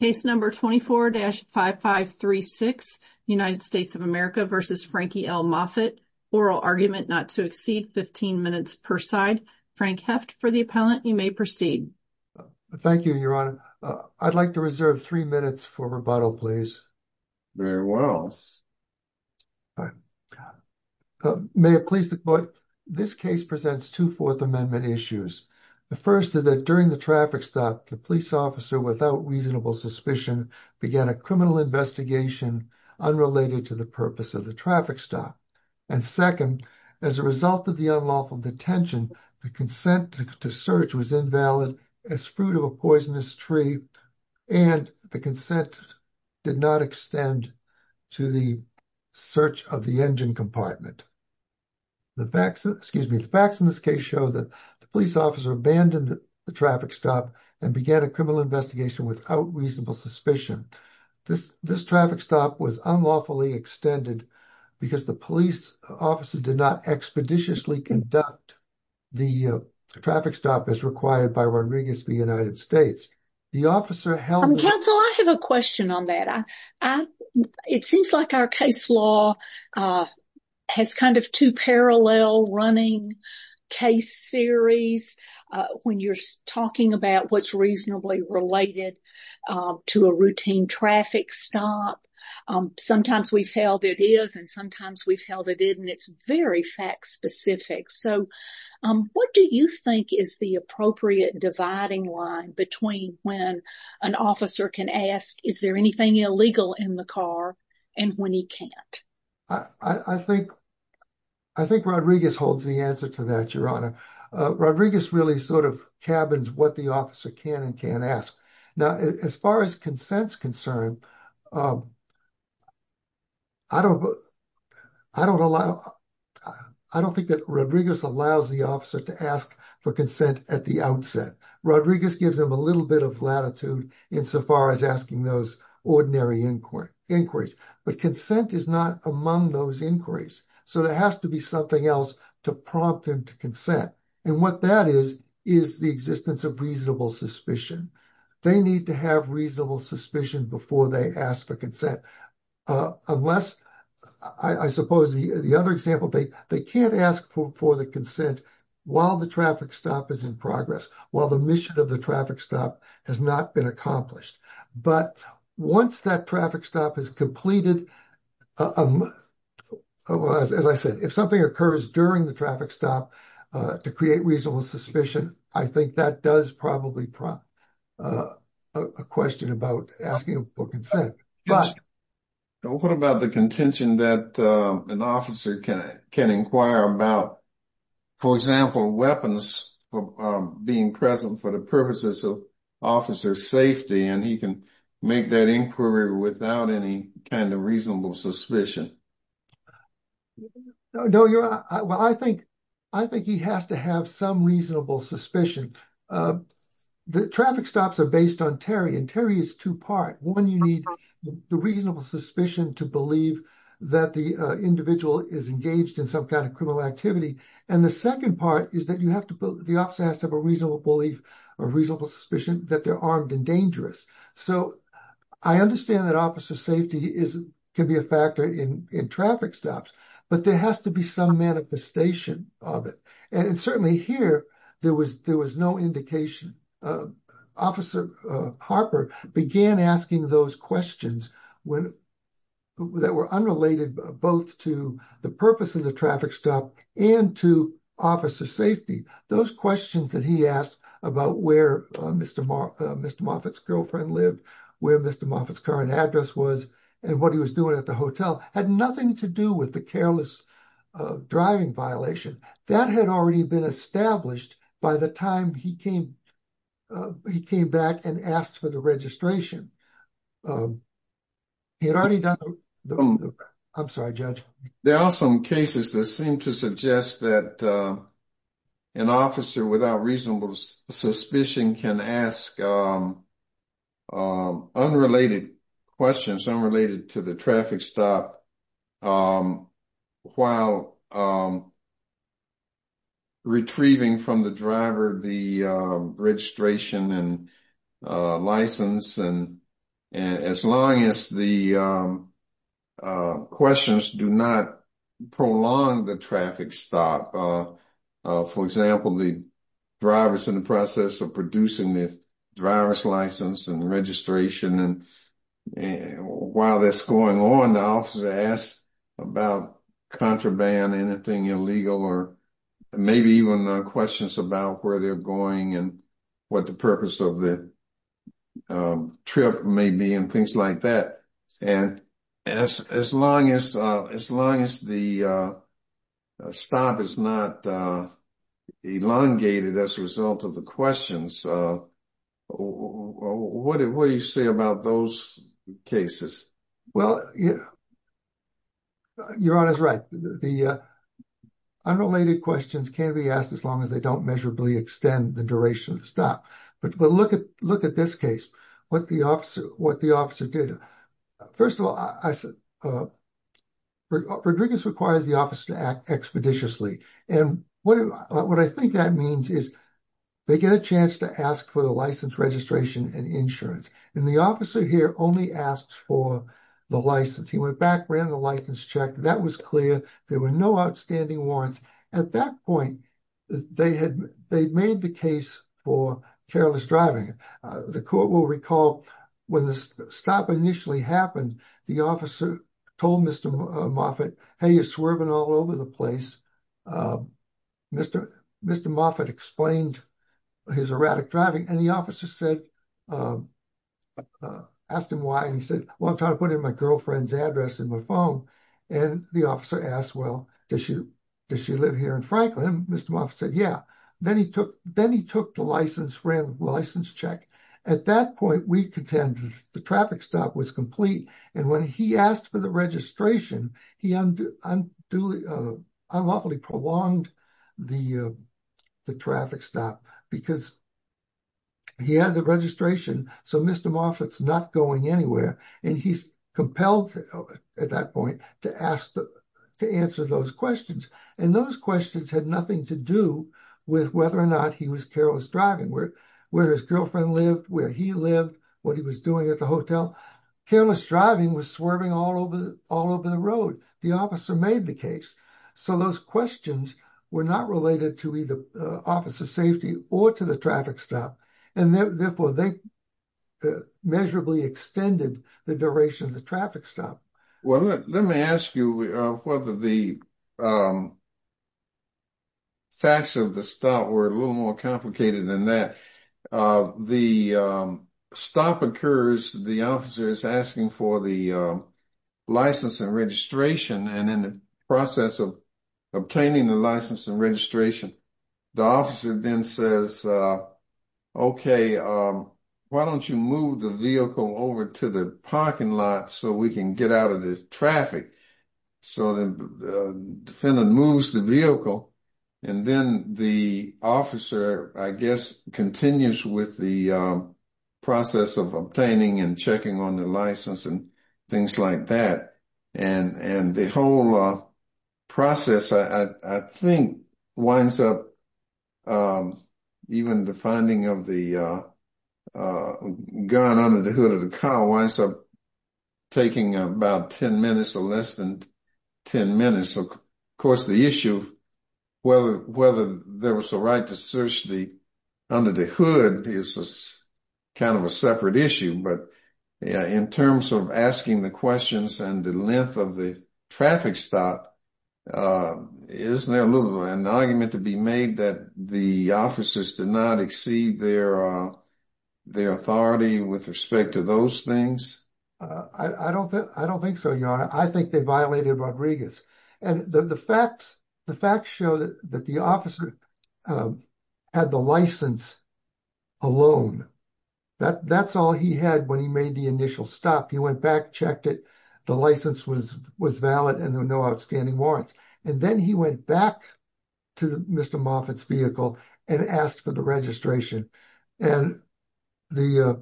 case number 24-5536 united states of america versus frankie l moffitt oral argument not to exceed 15 minutes per side frank heft for the appellant you may proceed thank you your honor i'd like to reserve three minutes for rebuttal please very well all right may it please the court this case presents two fourth amendment issues the first is that during the traffic stop the officer without reasonable suspicion began a criminal investigation unrelated to the purpose of the traffic stop and second as a result of the unlawful detention the consent to search was invalid as fruit of a poisonous tree and the consent did not extend to the search of the engine compartment the facts excuse me the facts in this case show that the police officer abandoned the traffic stop and began a criminal investigation without reasonable suspicion this this traffic stop was unlawfully extended because the police officer did not expeditiously conduct the traffic stop as required by rodriguez v united states the officer held counsel i have a question on that i it seems like our case law has kind of two parallel running case series when you're talking about what's reasonably related to a routine traffic stop sometimes we've held it is and sometimes we've held it in it's very fact specific so what do you think is the appropriate dividing line between when an officer can ask is there anything illegal in the car and when he can't i i think i think rodriguez holds the answer to that your honor uh rodriguez really sort of cabins what the officer can and can't ask now as far as consent's concerned um i don't i don't allow i don't think that rodriguez allows the officer to ask for consent at the outset rodriguez gives him a little bit of latitude insofar as asking those ordinary inquiry inquiries but consent is not among those inquiries so there has to be something else to prompt him to consent and what that is is the existence of reasonable suspicion they need to have reasonable suspicion before they ask for consent uh unless i i suppose the other example they they can't ask for the consent while the traffic stop is in progress while the mission of the traffic stop has not been accomplished but once that traffic stop is completed as i said if something occurs during the traffic stop uh to create reasonable suspicion i think that does probably prompt uh a question about asking for consent but what about the contention that an officer can can inquire about for example weapons for being present for the purposes of officer safety and he can make that inquiry without any kind of reasonable suspicion no you're well i think i think he has to have some reasonable suspicion the traffic stops are based on terry and terry is two-part one you need the reasonable suspicion to believe that the individual is engaged in some kind of criminal activity and the second part is that you have to put the officer has to have a reasonable belief or reasonable suspicion that they're armed and dangerous so i understand that officer safety is can be a factor in in traffic stops but there has to be some manifestation of it and certainly here there was there was no indication uh officer uh harper began asking those questions when that were unrelated both to the purpose of the traffic stop and to officer safety those questions that he asked about where mr mark mr moffett's girlfriend lived where mr moffett's current address was and what he was doing at the hotel had nothing to do with the careless driving violation that had already been established by the time he came he came back and asked for the registration he had already done the i'm sorry judge there are some cases that seem to suggest that an officer without reasonable suspicion can ask um unrelated questions unrelated to the traffic stop while retrieving from the driver the registration and license and as long as the questions do not prolong the traffic stop for example the drivers in the process of producing the driver's license and registration and while that's going on the officer asks about contraband anything illegal or maybe even questions about where they're going and what the purpose of the trip may be and things like that and as as long as uh as long as the uh stop is not uh elongated as a result of the questions uh what do you say about those cases well yeah your honor's right the uh unrelated questions can't be asked as long as they don't measurably extend the duration of the stop but look at look at this case what the officer what the officer did first of all i said uh rodriguez requires the officer to act expeditiously and what what i think that means is they get a chance to ask for the license registration and insurance and the officer here only asks for the license he went back ran the license check that was clear there were no outstanding warrants at that point they had they made the case for careless driving the court will recall when the stop initially happened the officer told mr moffitt hey you're swerving all over the place uh mr mr moffitt explained his erratic driving and the officer said asked him why and he said well i'm trying to put in my girlfriend's address in my phone and the officer asked well does she does she live here in franklin mr moffitt said yeah then he took then he took the license ran the license check at that point we contended the traffic stop was complete and when he asked for the registration he unduly uh unlawfully prolonged the uh the traffic stop because he had the registration so mr moffitt's not going anywhere and he's compelled at that point to ask to answer those questions and those questions had nothing to do with whether or not he was careless driving where where his girlfriend lived where he lived what he was doing at the hotel careless driving was swerving all over all over the road the officer made the case so those questions were not related to either officer safety or to the traffic stop and therefore they measurably extended the duration of the traffic stop well let me ask you whether the facts of the stop were a little more complicated than that the stop occurs the officer is asking for the license and registration and in the process of obtaining the license and registration the officer then says uh okay um why don't you move the over to the parking lot so we can get out of the traffic so the defendant moves the vehicle and then the officer i guess continues with the process of obtaining and checking on the license and things like that and and the whole uh process i i think winds up um even the finding of the uh uh gun under the hood of the car winds up taking about 10 minutes or less than 10 minutes of course the issue whether whether there was a right to search the under the hood is a kind of a separate issue but in terms of asking the questions and the length of the traffic stop uh isn't there a little an argument to be made that the officers did not exceed their their authority with respect to those things i i don't think i don't think so your honor i think they violated rodriguez and the the facts the facts show that that the officer um had the license alone that that's all he had when he made the initial stop he went back checked it the license was was valid and there were no outstanding warrants and then he went back to mr moffett's vehicle and asked for the registration and the uh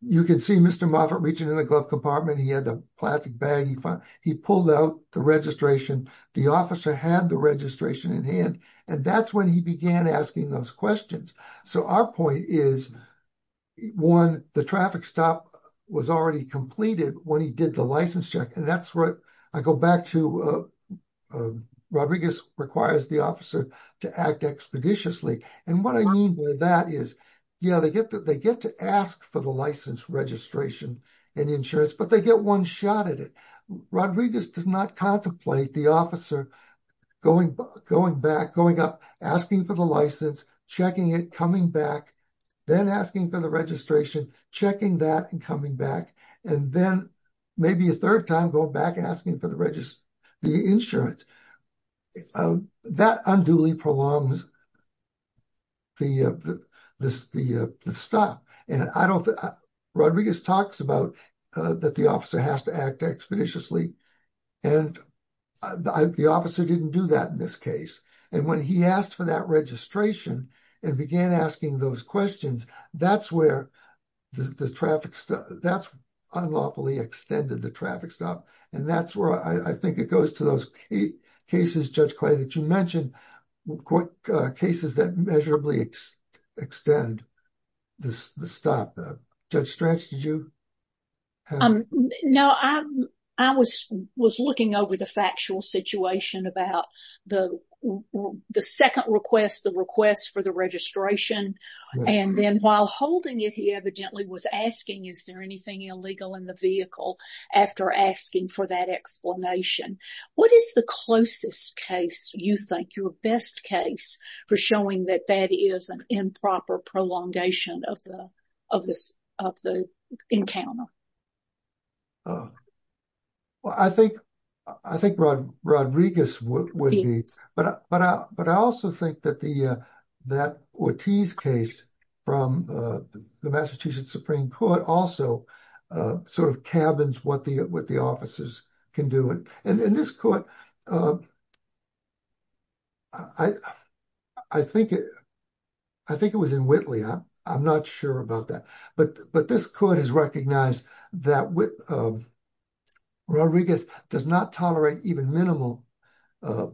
you can see mr moffett reaching in the glove compartment he had a plastic bag he found he pulled out the registration the officer had the registration in hand and that's when he began asking those questions so our point is one the traffic stop was already completed when he did the license check and that's what i go back to uh rodriguez requires the officer to act expeditiously and what i mean by that is yeah they get that they get to ask for the license registration and insurance but they get one shot at it rodriguez does not contemplate the officer going going back going up asking for the license checking it coming back then asking for the registration checking that and coming back and then maybe a third time going back and asking for the register the insurance that unduly prolongs the the the stop and i don't think rodriguez talks about uh that the officer has to act expeditiously and the officer didn't do that in this case and when he asked for that registration and began asking those questions that's where the traffic that's unlawfully extended the traffic stop and that's where i i think it goes to those cases judge clay that you mentioned what cases that measurably extend this the stop judge stretch did you um no i i was was looking over the factual situation about the the second request the request for the registration and then while holding it he evidently was asking is there anything illegal in the vehicle after asking for that explanation what is the closest case you think your best case for showing that that is improper prolongation of the of this of the encounter well i think i think rodriguez would be but but i but i also think that the uh that ortiz case from uh the massachusetts supreme court also uh sort of cabins what the what the officers can do it and in this court uh i i think it i think it was in whitley i'm i'm not sure about that but but this court has recognized that with um rodriguez does not tolerate even minimal uh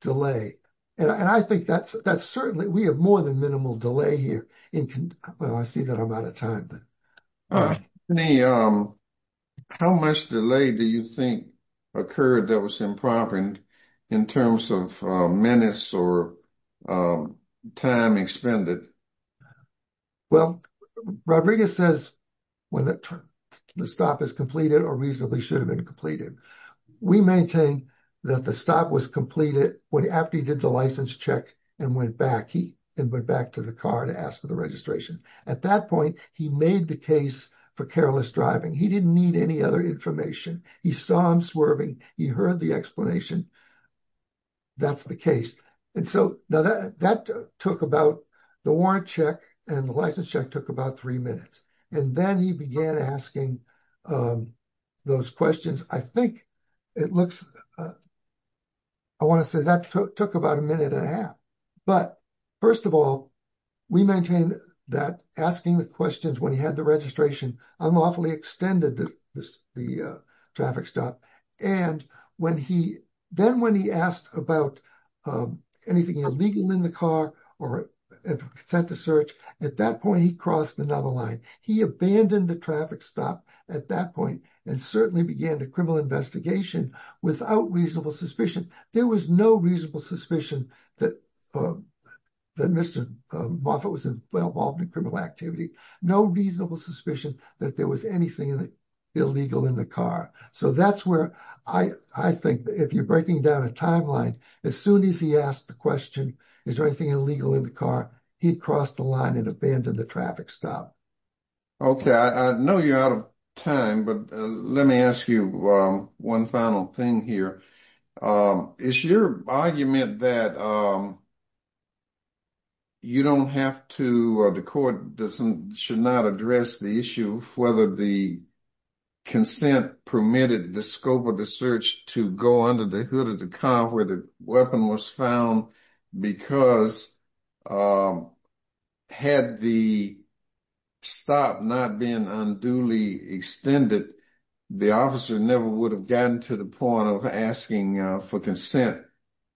delay and i think that's that's certainly we have more than minimal delay here in well i see that i'm out of time then uh any um how much delay do you think occurred that was improper in terms of minutes or time expended well rodriguez says when the stop is completed or reasonably should have been completed we maintain that the stop was completed when after he did the license check and went back he and went back to the car to ask for the registration at that point he made the case for careless driving he didn't need any other information he saw him swerving he heard the explanation that's the case and so now that that took about the warrant check and the license check took about three minutes and then he began asking um those questions i think it looks i want to say that took about a minute and a half but first of all we maintain that asking the questions when he had the registration unlawfully extended the the traffic stop and when he then when he asked about um anything illegal in the car or consent to search at that point he crossed another line he abandoned the traffic stop at that point and certainly began the criminal investigation without reasonable suspicion there was no reasonable suspicion that that mr moffett was involved in criminal activity no reasonable suspicion that there was anything illegal in the car so that's where i i think if you're breaking down a timeline as soon as he asked the question is there anything illegal in the car he'd crossed the line and abandoned the traffic stop okay i know you're out of time but let me ask you one final thing here um is your argument that um you don't have to the court doesn't should not address the issue of whether the consent permitted the scope of the search to go under the hood of the car where the weapon was found because um had the stop not been unduly extended the officer never would have gotten to the point of asking for consent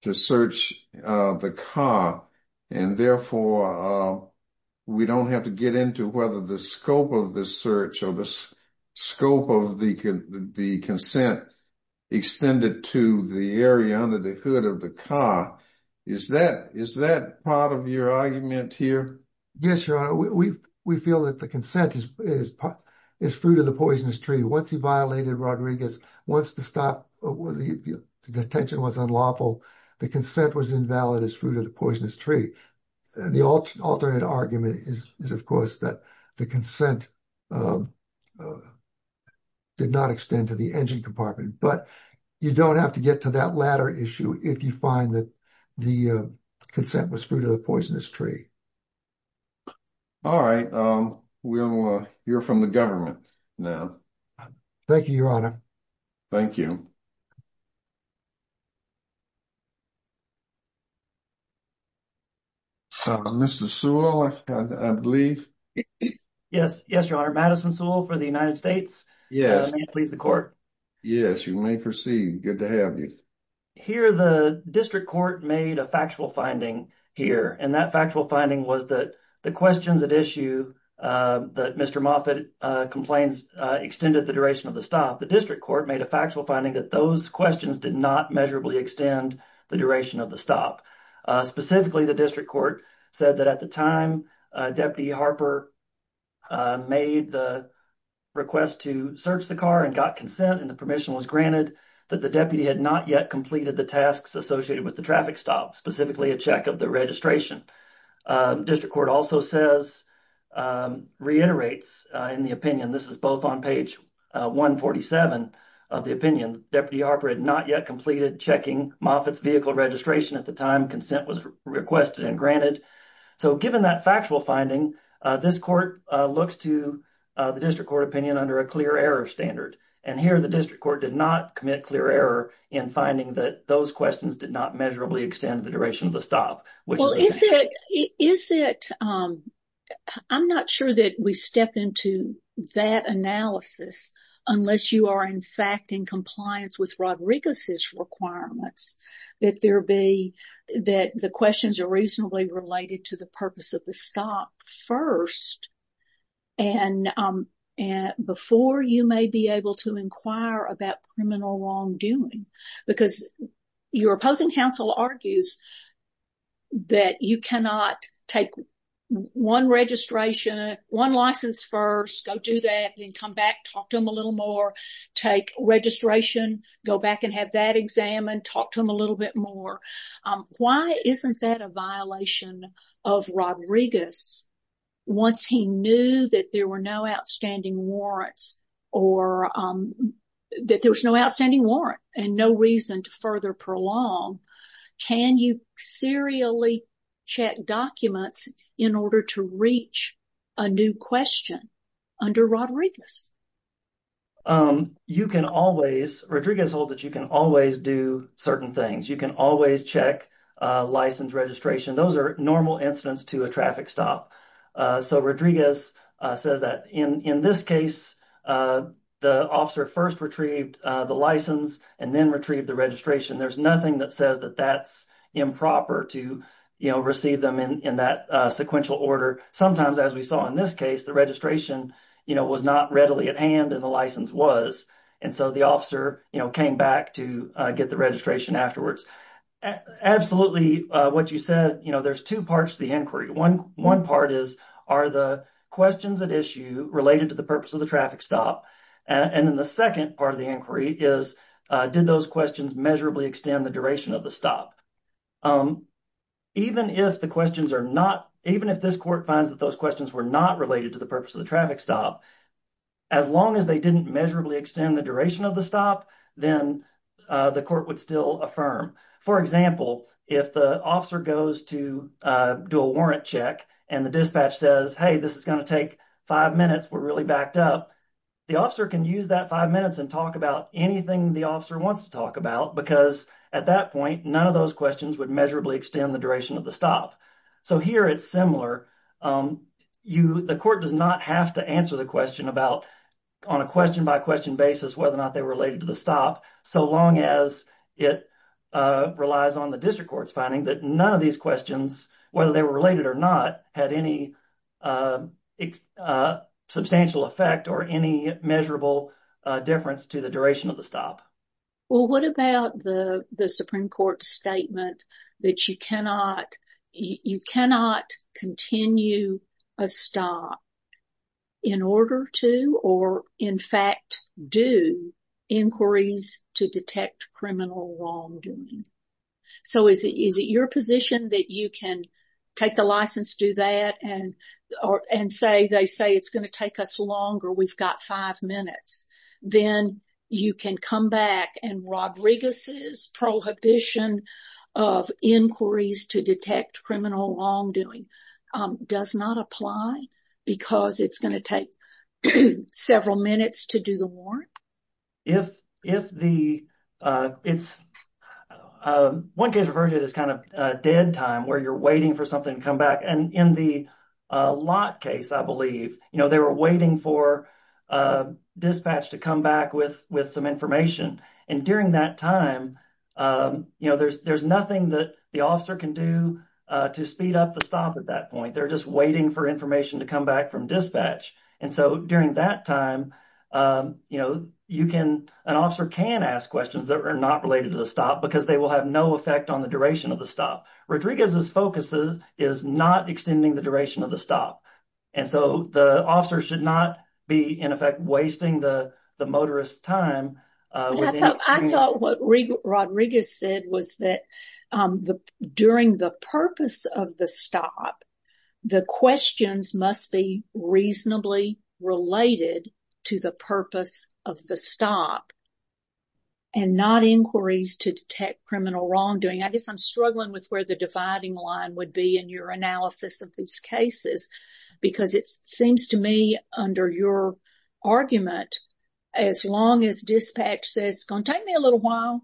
to search uh the car and therefore uh we don't have to get into whether the scope of the search or the scope of the the consent extended to the area under the hood of the car is that is that part of your argument here yes your honor we we feel that the consent is is part is fruit of the poisonous tree once he violated rodriguez wants to stop the detention was unlawful the consent was invalid as fruit of the poisonous tree the alternate argument is is of course that the consent um did not extend to the engine compartment but you don't have to get to that latter issue if you find that the uh consent was fruit of the poisonous tree all right um we'll uh you're from the government now thank you your honor thank you mr sewell i believe yes yes your honor madison sewell for the united states yes please the court yes you may proceed good to have you here the district court made a factual finding here and that factual finding was that the questions at issue uh that mr moffitt uh complains uh extended the duration of the stop the district court made a factual finding that those questions did not measurably extend the duration of the stop uh specifically the district court said that at the time uh deputy harper made the request to search the car and got consent and the permission was granted that the deputy had not yet completed the tasks associated with the traffic stop specifically a check of the registration district court also says reiterates in the opinion this is both on page 147 of the opinion deputy harper had not yet completed checking moffitt's vehicle registration at the time consent was requested and granted so given that factual finding uh this court uh looks to the district court opinion under a clear error standard and here the district court did not commit clear error in finding that those questions did not measurably extend the duration of the stop well is it is it um i'm not sure that we step into that analysis unless you are in fact in compliance with rodriguez's requirements that there be that the questions are reasonably related to the purpose of the stop first and um and before you may be able to inquire about criminal wrongdoing because your opposing counsel argues that you cannot take one registration one license first go do that then come back talk to him a little more take registration go back and have that exam and talk to him a little bit more um why isn't that a violation of rodriguez once he knew that there were no outstanding warrants or um that there was no outstanding warrant and no reason to further prolong can you serially check documents in order to reach a new question under rodriguez um you can always rodriguez holds that you can always do certain things you can always check license registration those are normal incidents to a traffic stop uh so rodriguez says that in in this case uh the officer first retrieved the license and then retrieved the registration there's nothing that says that that's improper to you know receive them in in that sequential order sometimes as we saw in this case the registration you know was not readily at hand and the license was and so the officer you know came back to uh get the registration afterwards absolutely uh what you said you know there's two parts to the inquiry one one part is are the questions at issue related to the purpose of the traffic stop and then the second part of the inquiry is uh did those questions measurably extend the duration of the stop um even if the questions are not even if this court finds that those questions were not related to the purpose of the traffic stop as long as they didn't measurably extend the duration of the stop then uh the court would still affirm for example if the officer goes to uh do a warrant check and the dispatch says hey this is going to take five minutes we're really backed up the officer can use that five minutes and talk about anything the officer wants to talk about because at that point none of those questions would measurably extend the duration of the stop so here it's similar um you the court does not have to answer the question about on a question by question basis whether or not they were related to the stop so long as it uh relies on the district court's finding that none of these questions whether they were related or not had any uh substantial effect or any measurable uh difference to the duration of the stop well what about the the supreme court statement that you cannot you cannot continue a stop in order to or in fact do inquiries to detect criminal wrongdoing so is it is it your position that you can take the license do that and or and say they say it's going to take us longer we've got five minutes then you can come back and Rodriguez's prohibition of inquiries to detect criminal wrongdoing um does not apply because it's going to take several minutes to do the warrant if if the uh it's uh one case referred to as kind of uh dead time where you're waiting for something to come back and in the uh lot case i believe you know they were waiting for uh dispatch to come back with with some information and during that time um you know there's there's nothing that the officer can do uh to speed up the stop at that point they're just waiting for information to come back from dispatch and so during that time um you know you can an officer can ask questions that are not related to the stop because they will have no effect on the duration of the stop Rodriguez's focus is not extending the duration of the stop and so the officer should not be in effect wasting the the motorist time uh I thought what Rodriguez said was that um the during the purpose of the stop the questions must be reasonably related to the purpose of the stop and not inquiries to detect criminal wrongdoing I guess I'm struggling with where the dividing line would be in your analysis of these cases because it seems to me under your argument as long as dispatch says it's going to take me a little while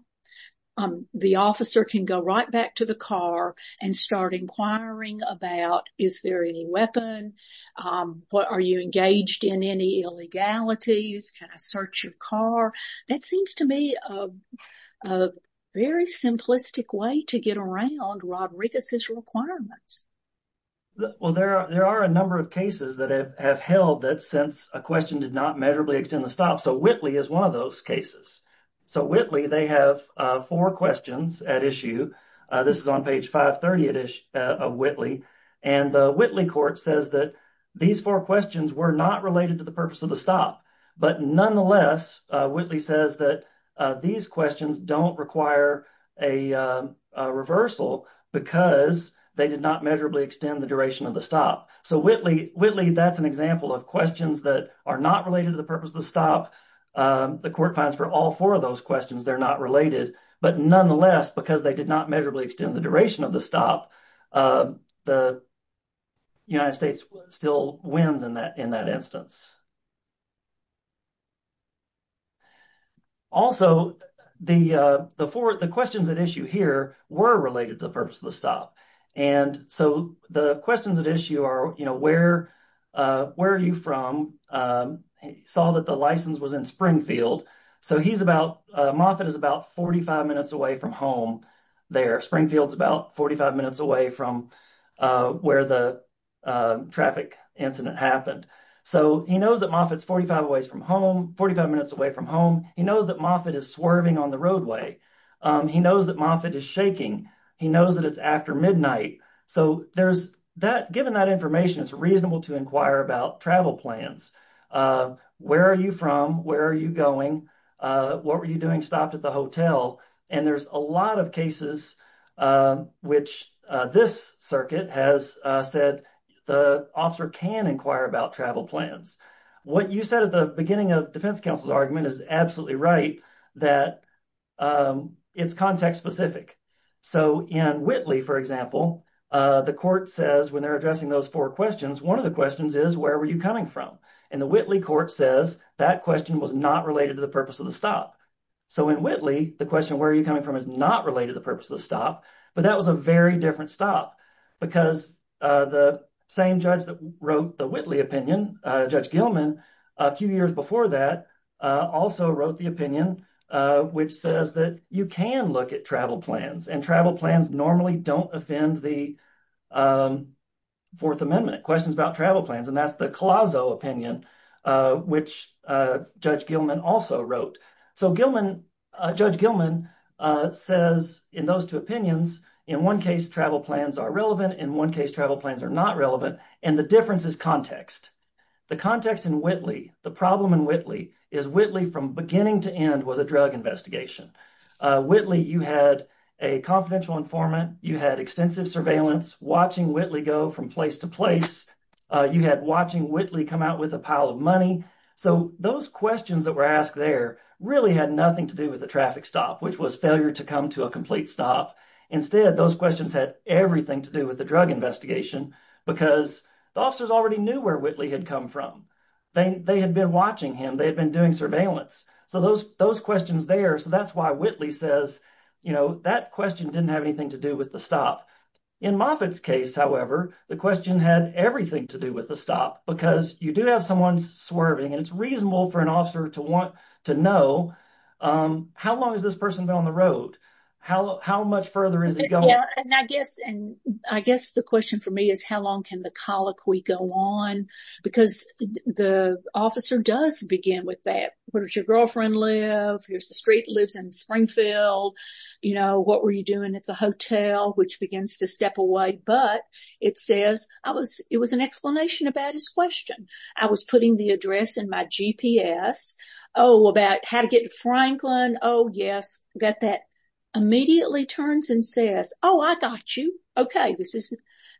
um the officer can go right back to the car and start inquiring about is there any weapon um what are you engaged in any illegalities can I search your car that seems to be a very simplistic way to get around Rodriguez's requirements well there are there are a number of cases that have held that since a question did not measurably extend the stop so Whitley is one of those cases so Whitley they have uh four questions at issue uh this is on page 530 at issue of Whitley and the Whitley court says that these four questions were not related to the purpose of the stop but nonetheless Whitley says that these questions don't require a reversal because they did not measurably extend the duration of the stop so Whitley Whitley that's an example of questions that are not related to the purpose of the stop the court finds for all four of those questions they're not related but nonetheless because they did not measurably extend the duration of the stop uh the United States still wins in that in that instance also the uh the four the questions at issue here were related to the purpose of the stop and so the questions at issue are you know where uh where are you from um he saw that the license was in Springfield so he's about uh Moffett is about 45 minutes away from home there Springfield's about 45 minutes away from uh where the uh traffic incident happened so he knows that Moffett's 45 ways from home 45 minutes away from home he knows that Moffett is swerving on the roadway he knows that Moffett is shaking he knows that it's after midnight so there's that given that information it's reasonable to inquire about travel plans uh where are you from where are you going uh what were you doing stopped at the hotel and there's a lot of cases um which uh this circuit has uh said the officer can inquire about travel plans what you said at the beginning of defense counsel's argument is absolutely right that um it's context specific so in Whitley for example uh the court says when they're addressing those four questions one of the questions is where are you coming from and the Whitley court says that question was not related to the purpose of the stop so in Whitley the question where are you coming from is not related to the purpose of the stop but that was a very different stop because uh the same judge that wrote the Whitley opinion uh Judge Gilman a few years before that uh also wrote the opinion uh which says that you can look at travel plans and travel plans normally don't offend the um fourth amendment questions about travel plans and that's the Colosso opinion uh which uh Judge Gilman also wrote so Gilman uh Judge Gilman uh says in those two opinions in one case travel plans are relevant in one case travel plans are not relevant and the difference is context the context in Whitley the problem in Whitley is Whitley from beginning to end was a drug investigation uh Whitley you had a confidential informant you had extensive surveillance watching Whitley go from place to place uh you had watching Whitley come out with a pile of money so those questions that were asked there really had nothing to do with the traffic stop which was failure to come to a complete stop instead those questions had everything to do with the drug investigation because the officers already knew where Whitley had come from they they had been watching him they had been doing surveillance so those those there so that's why Whitley says you know that question didn't have anything to do with the stop in Moffitt's case however the question had everything to do with the stop because you do have someone's swerving and it's reasonable for an officer to want to know um how long has this person been on the road how how much further is it going and I guess and I guess the question for me is how long can the colloquy go on because the officer does begin with that where does your live here's the street lives in Springfield you know what were you doing at the hotel which begins to step away but it says I was it was an explanation about his question I was putting the address in my GPS oh about how to get to Franklin oh yes that that immediately turns and says oh I got you okay this is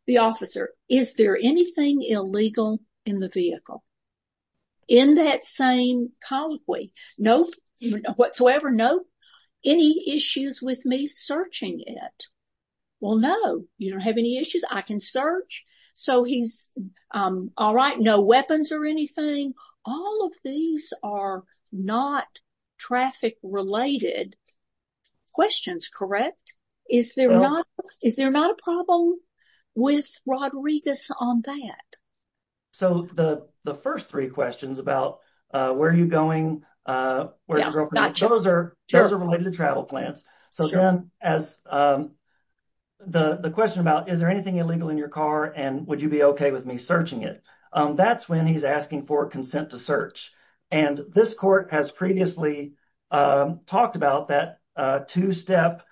the officer is there anything illegal in the vehicle in that same colloquy no whatsoever no any issues with me searching it well no you don't have any issues I can search so he's um all right no weapons or anything all of these are not traffic related questions correct is there not is there not a problem with Rodriguez on that so the the first three questions about uh where are you going uh where's your girlfriend those are those are related to travel plans so then as um the the question about is there anything illegal in your car and would you be okay with me searching it um that's when he's asking for consent to search and this court has previously um talked about that uh two-step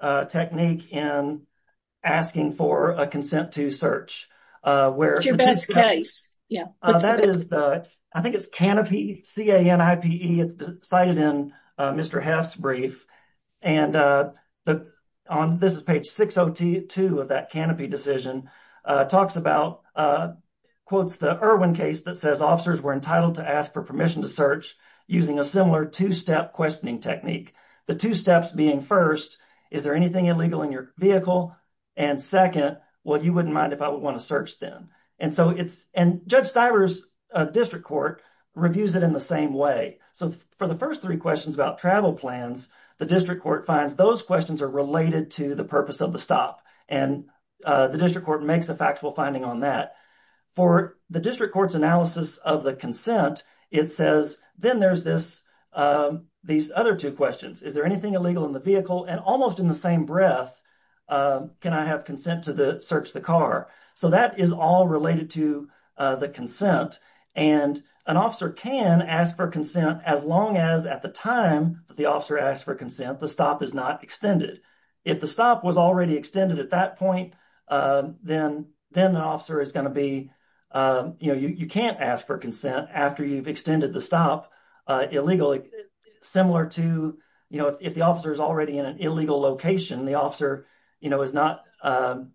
uh technique in asking for a consent to search uh where's your best case yeah that is the I think it's canopy c-a-n-i-p-e it's cited in Mr. Heff's brief and uh the on this is page 602 of that canopy decision talks about uh quotes the Irwin case that says officers were entitled to ask for permission to search using a similar two-step questioning technique the two steps being first is there anything illegal in your vehicle and second well you wouldn't mind if I would want to search then and so it's and Judge Stiver's uh district court reviews it in the same way so for the first three questions about travel plans the district court finds those questions are related to the purpose of the stop and uh the district court makes a factual finding on that for the district court's analysis of the consent it says then there's this um these other two questions is there anything illegal in the vehicle and almost in the same breath um can I have consent to the search the car so that is all related to uh the consent and an officer can ask for consent as long as at the time that the officer asked for consent the stop is not extended if the stop was already extended at that point uh then then the officer is going to be um you know you can't ask for consent after you've extended the stop uh illegally similar to you know if the officer is already in an illegal location the officer you know is not um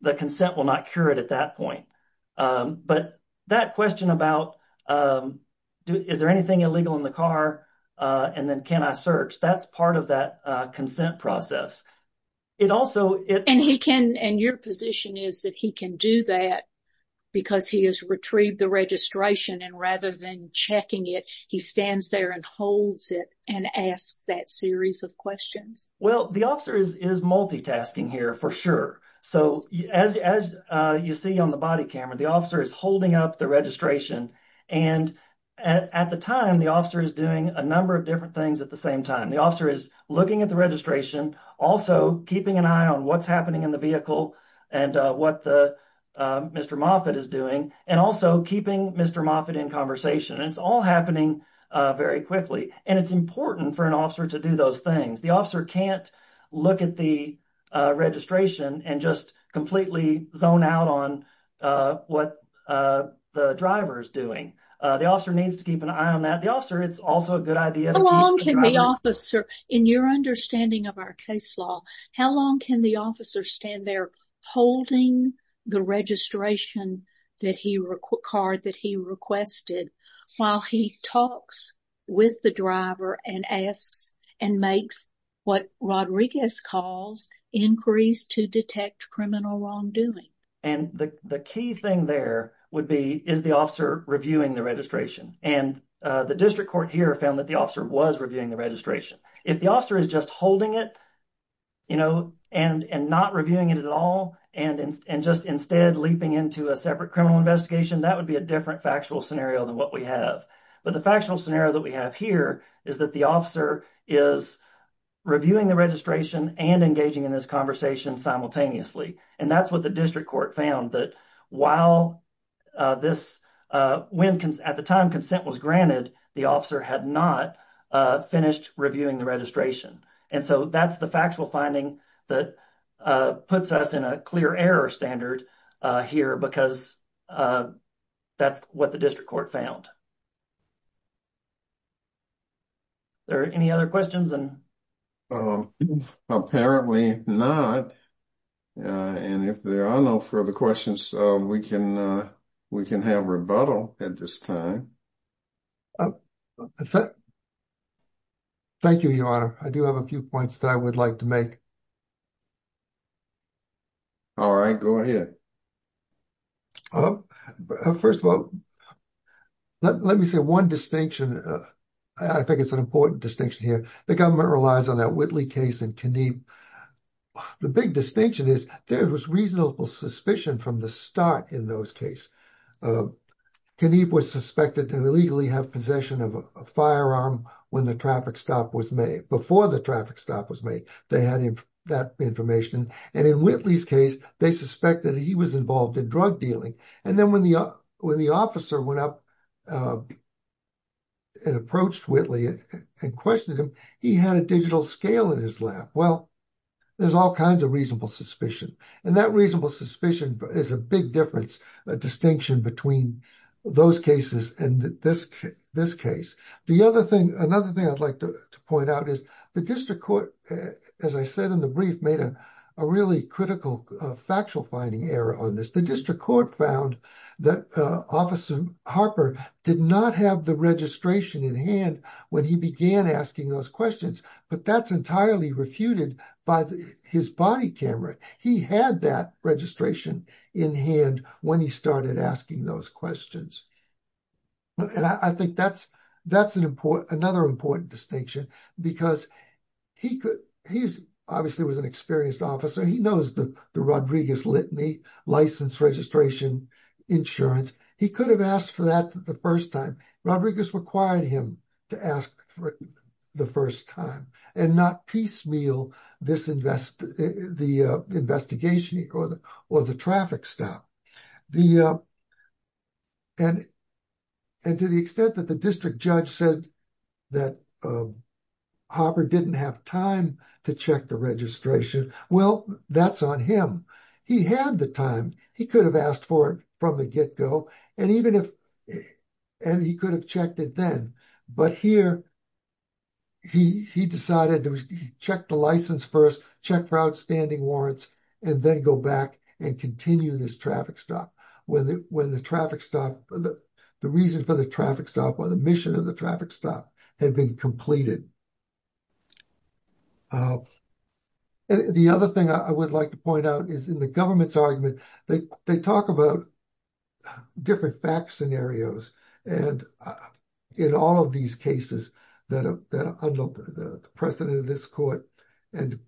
the consent will not cure it at that point um but that question about um is there anything illegal in the car uh and then can I search that's part of that uh consent process it also it and he can and your position is that he can do that because he has retrieved the registration and rather than checking it he stands there and holds it and asks that series of questions well the officer is is multitasking here for sure so as as uh you see on the body camera the officer is holding up the registration and at the time the officer is doing a number of different things at the same time the officer is looking at the registration also keeping an eye on what's in the vehicle and uh what the uh mr moffitt is doing and also keeping mr moffitt in conversation it's all happening uh very quickly and it's important for an officer to do those things the officer can't look at the uh registration and just completely zone out on uh what uh the driver is doing uh the officer needs to keep an eye on that the officer it's also a good idea how long officer in your understanding of our case law how long can the officer stand there holding the registration that he required that he requested while he talks with the driver and asks and makes what rodriguez calls increase to detect criminal wrongdoing and the the key thing there would be is the officer reviewing the registration and uh the district court here found that the if the officer is just holding it you know and and not reviewing it at all and and just instead leaping into a separate criminal investigation that would be a different factual scenario than what we have but the factual scenario that we have here is that the officer is reviewing the registration and engaging in this conversation simultaneously and that's what the district court found that while uh this uh when at the time consent was granted the officer had not uh finished reviewing the registration and so that's the factual finding that uh puts us in a clear error standard uh here because uh that's what the district court found is there any other questions and um apparently not and if there are no further questions uh we can we can have rebuttal at this time thank you your honor i do have a few points that i would like to make all right go ahead uh first of all let me say one distinction uh i think it's an important distinction here the government relies on that whitley case and keneb the big distinction is there was reasonable suspicion from the start in those case uh keneb was suspected to illegally have possession of a firearm when the traffic stop was made before the traffic stop was made they had him that information and in whitley's case they suspected he was involved in drug dealing and then when the uh when the officer went up uh and approached whitley and questioned him he had a digital scale in his lap well there's all kinds of reasonable suspicion and that reasonable suspicion is a big difference a distinction between those cases and this this case the another thing i'd like to point out is the district court as i said in the brief made a really critical factual finding error on this the district court found that officer harper did not have the registration in hand when he began asking those questions but that's entirely refuted by his body camera he had that registration in hand when he started asking those questions and i think that's an important another important distinction because he could he's obviously was an experienced officer he knows the the rodriguez litany license registration insurance he could have asked for that the first time rodriguez required him to ask for the first time and not piecemeal this invest the uh investigation or the or the traffic stop the uh and and to the extent that the district judge said that harper didn't have time to check the registration well that's on him he had the time he could have asked for it from the get-go and even if and he could have checked it then but here he he decided to check the license first check for outstanding warrants and then go back and continue this traffic stop when the when the traffic stop the reason for the traffic stop or the mission of the traffic stop had been completed uh and the other thing i would like to point out is in the government's argument they they talk about different fact scenarios and in all of these cases that are that are under the precedent of this court and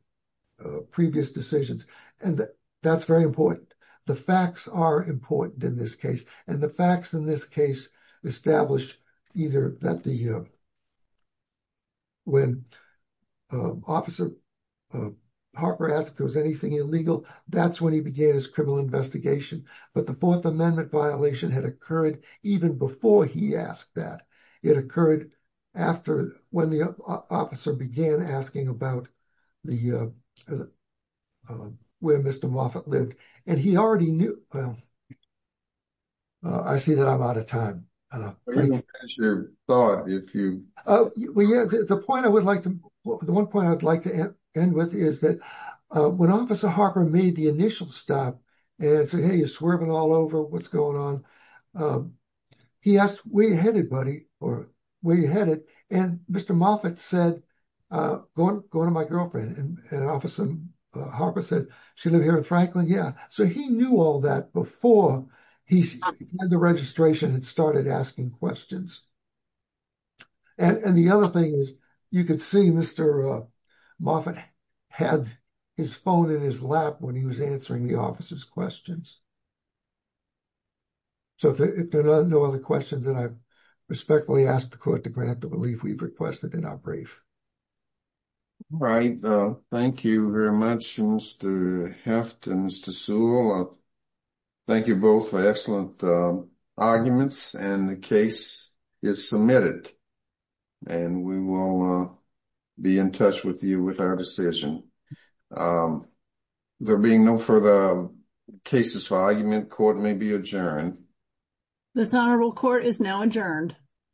previous decisions and that's very important the facts are important in this case and the facts in this case established either that the uh when uh officer uh harper asked if there was anything illegal that's when he began his criminal investigation but the fourth amendment violation had occurred even before he asked that it occurred after when the officer began asking about the uh where mr moffett lived and he already knew well i see that i'm out of time thought if you oh yeah the point i would like to the one point i'd like to end with is that when officer harper made the initial stop and said hey you're swerving all over what's going on um he asked where you headed buddy or where you headed and mr moffett said uh go on go to my girlfriend and officer harper said she lived here in franklin yeah so he knew all that before he had the registration and started asking questions and and the other thing is you could see mr uh moffett had his phone in his lap when he was answering the officer's questions so if there are no other questions that i respectfully ask the court to grant the belief we've requested in our brief right uh thank you very much mr heft and mr sewell thank you both for excellent uh arguments and the case is submitted and we will uh be in touch with you with our decision um there being no further cases for argument court may be adjourned this honorable court is now adjourned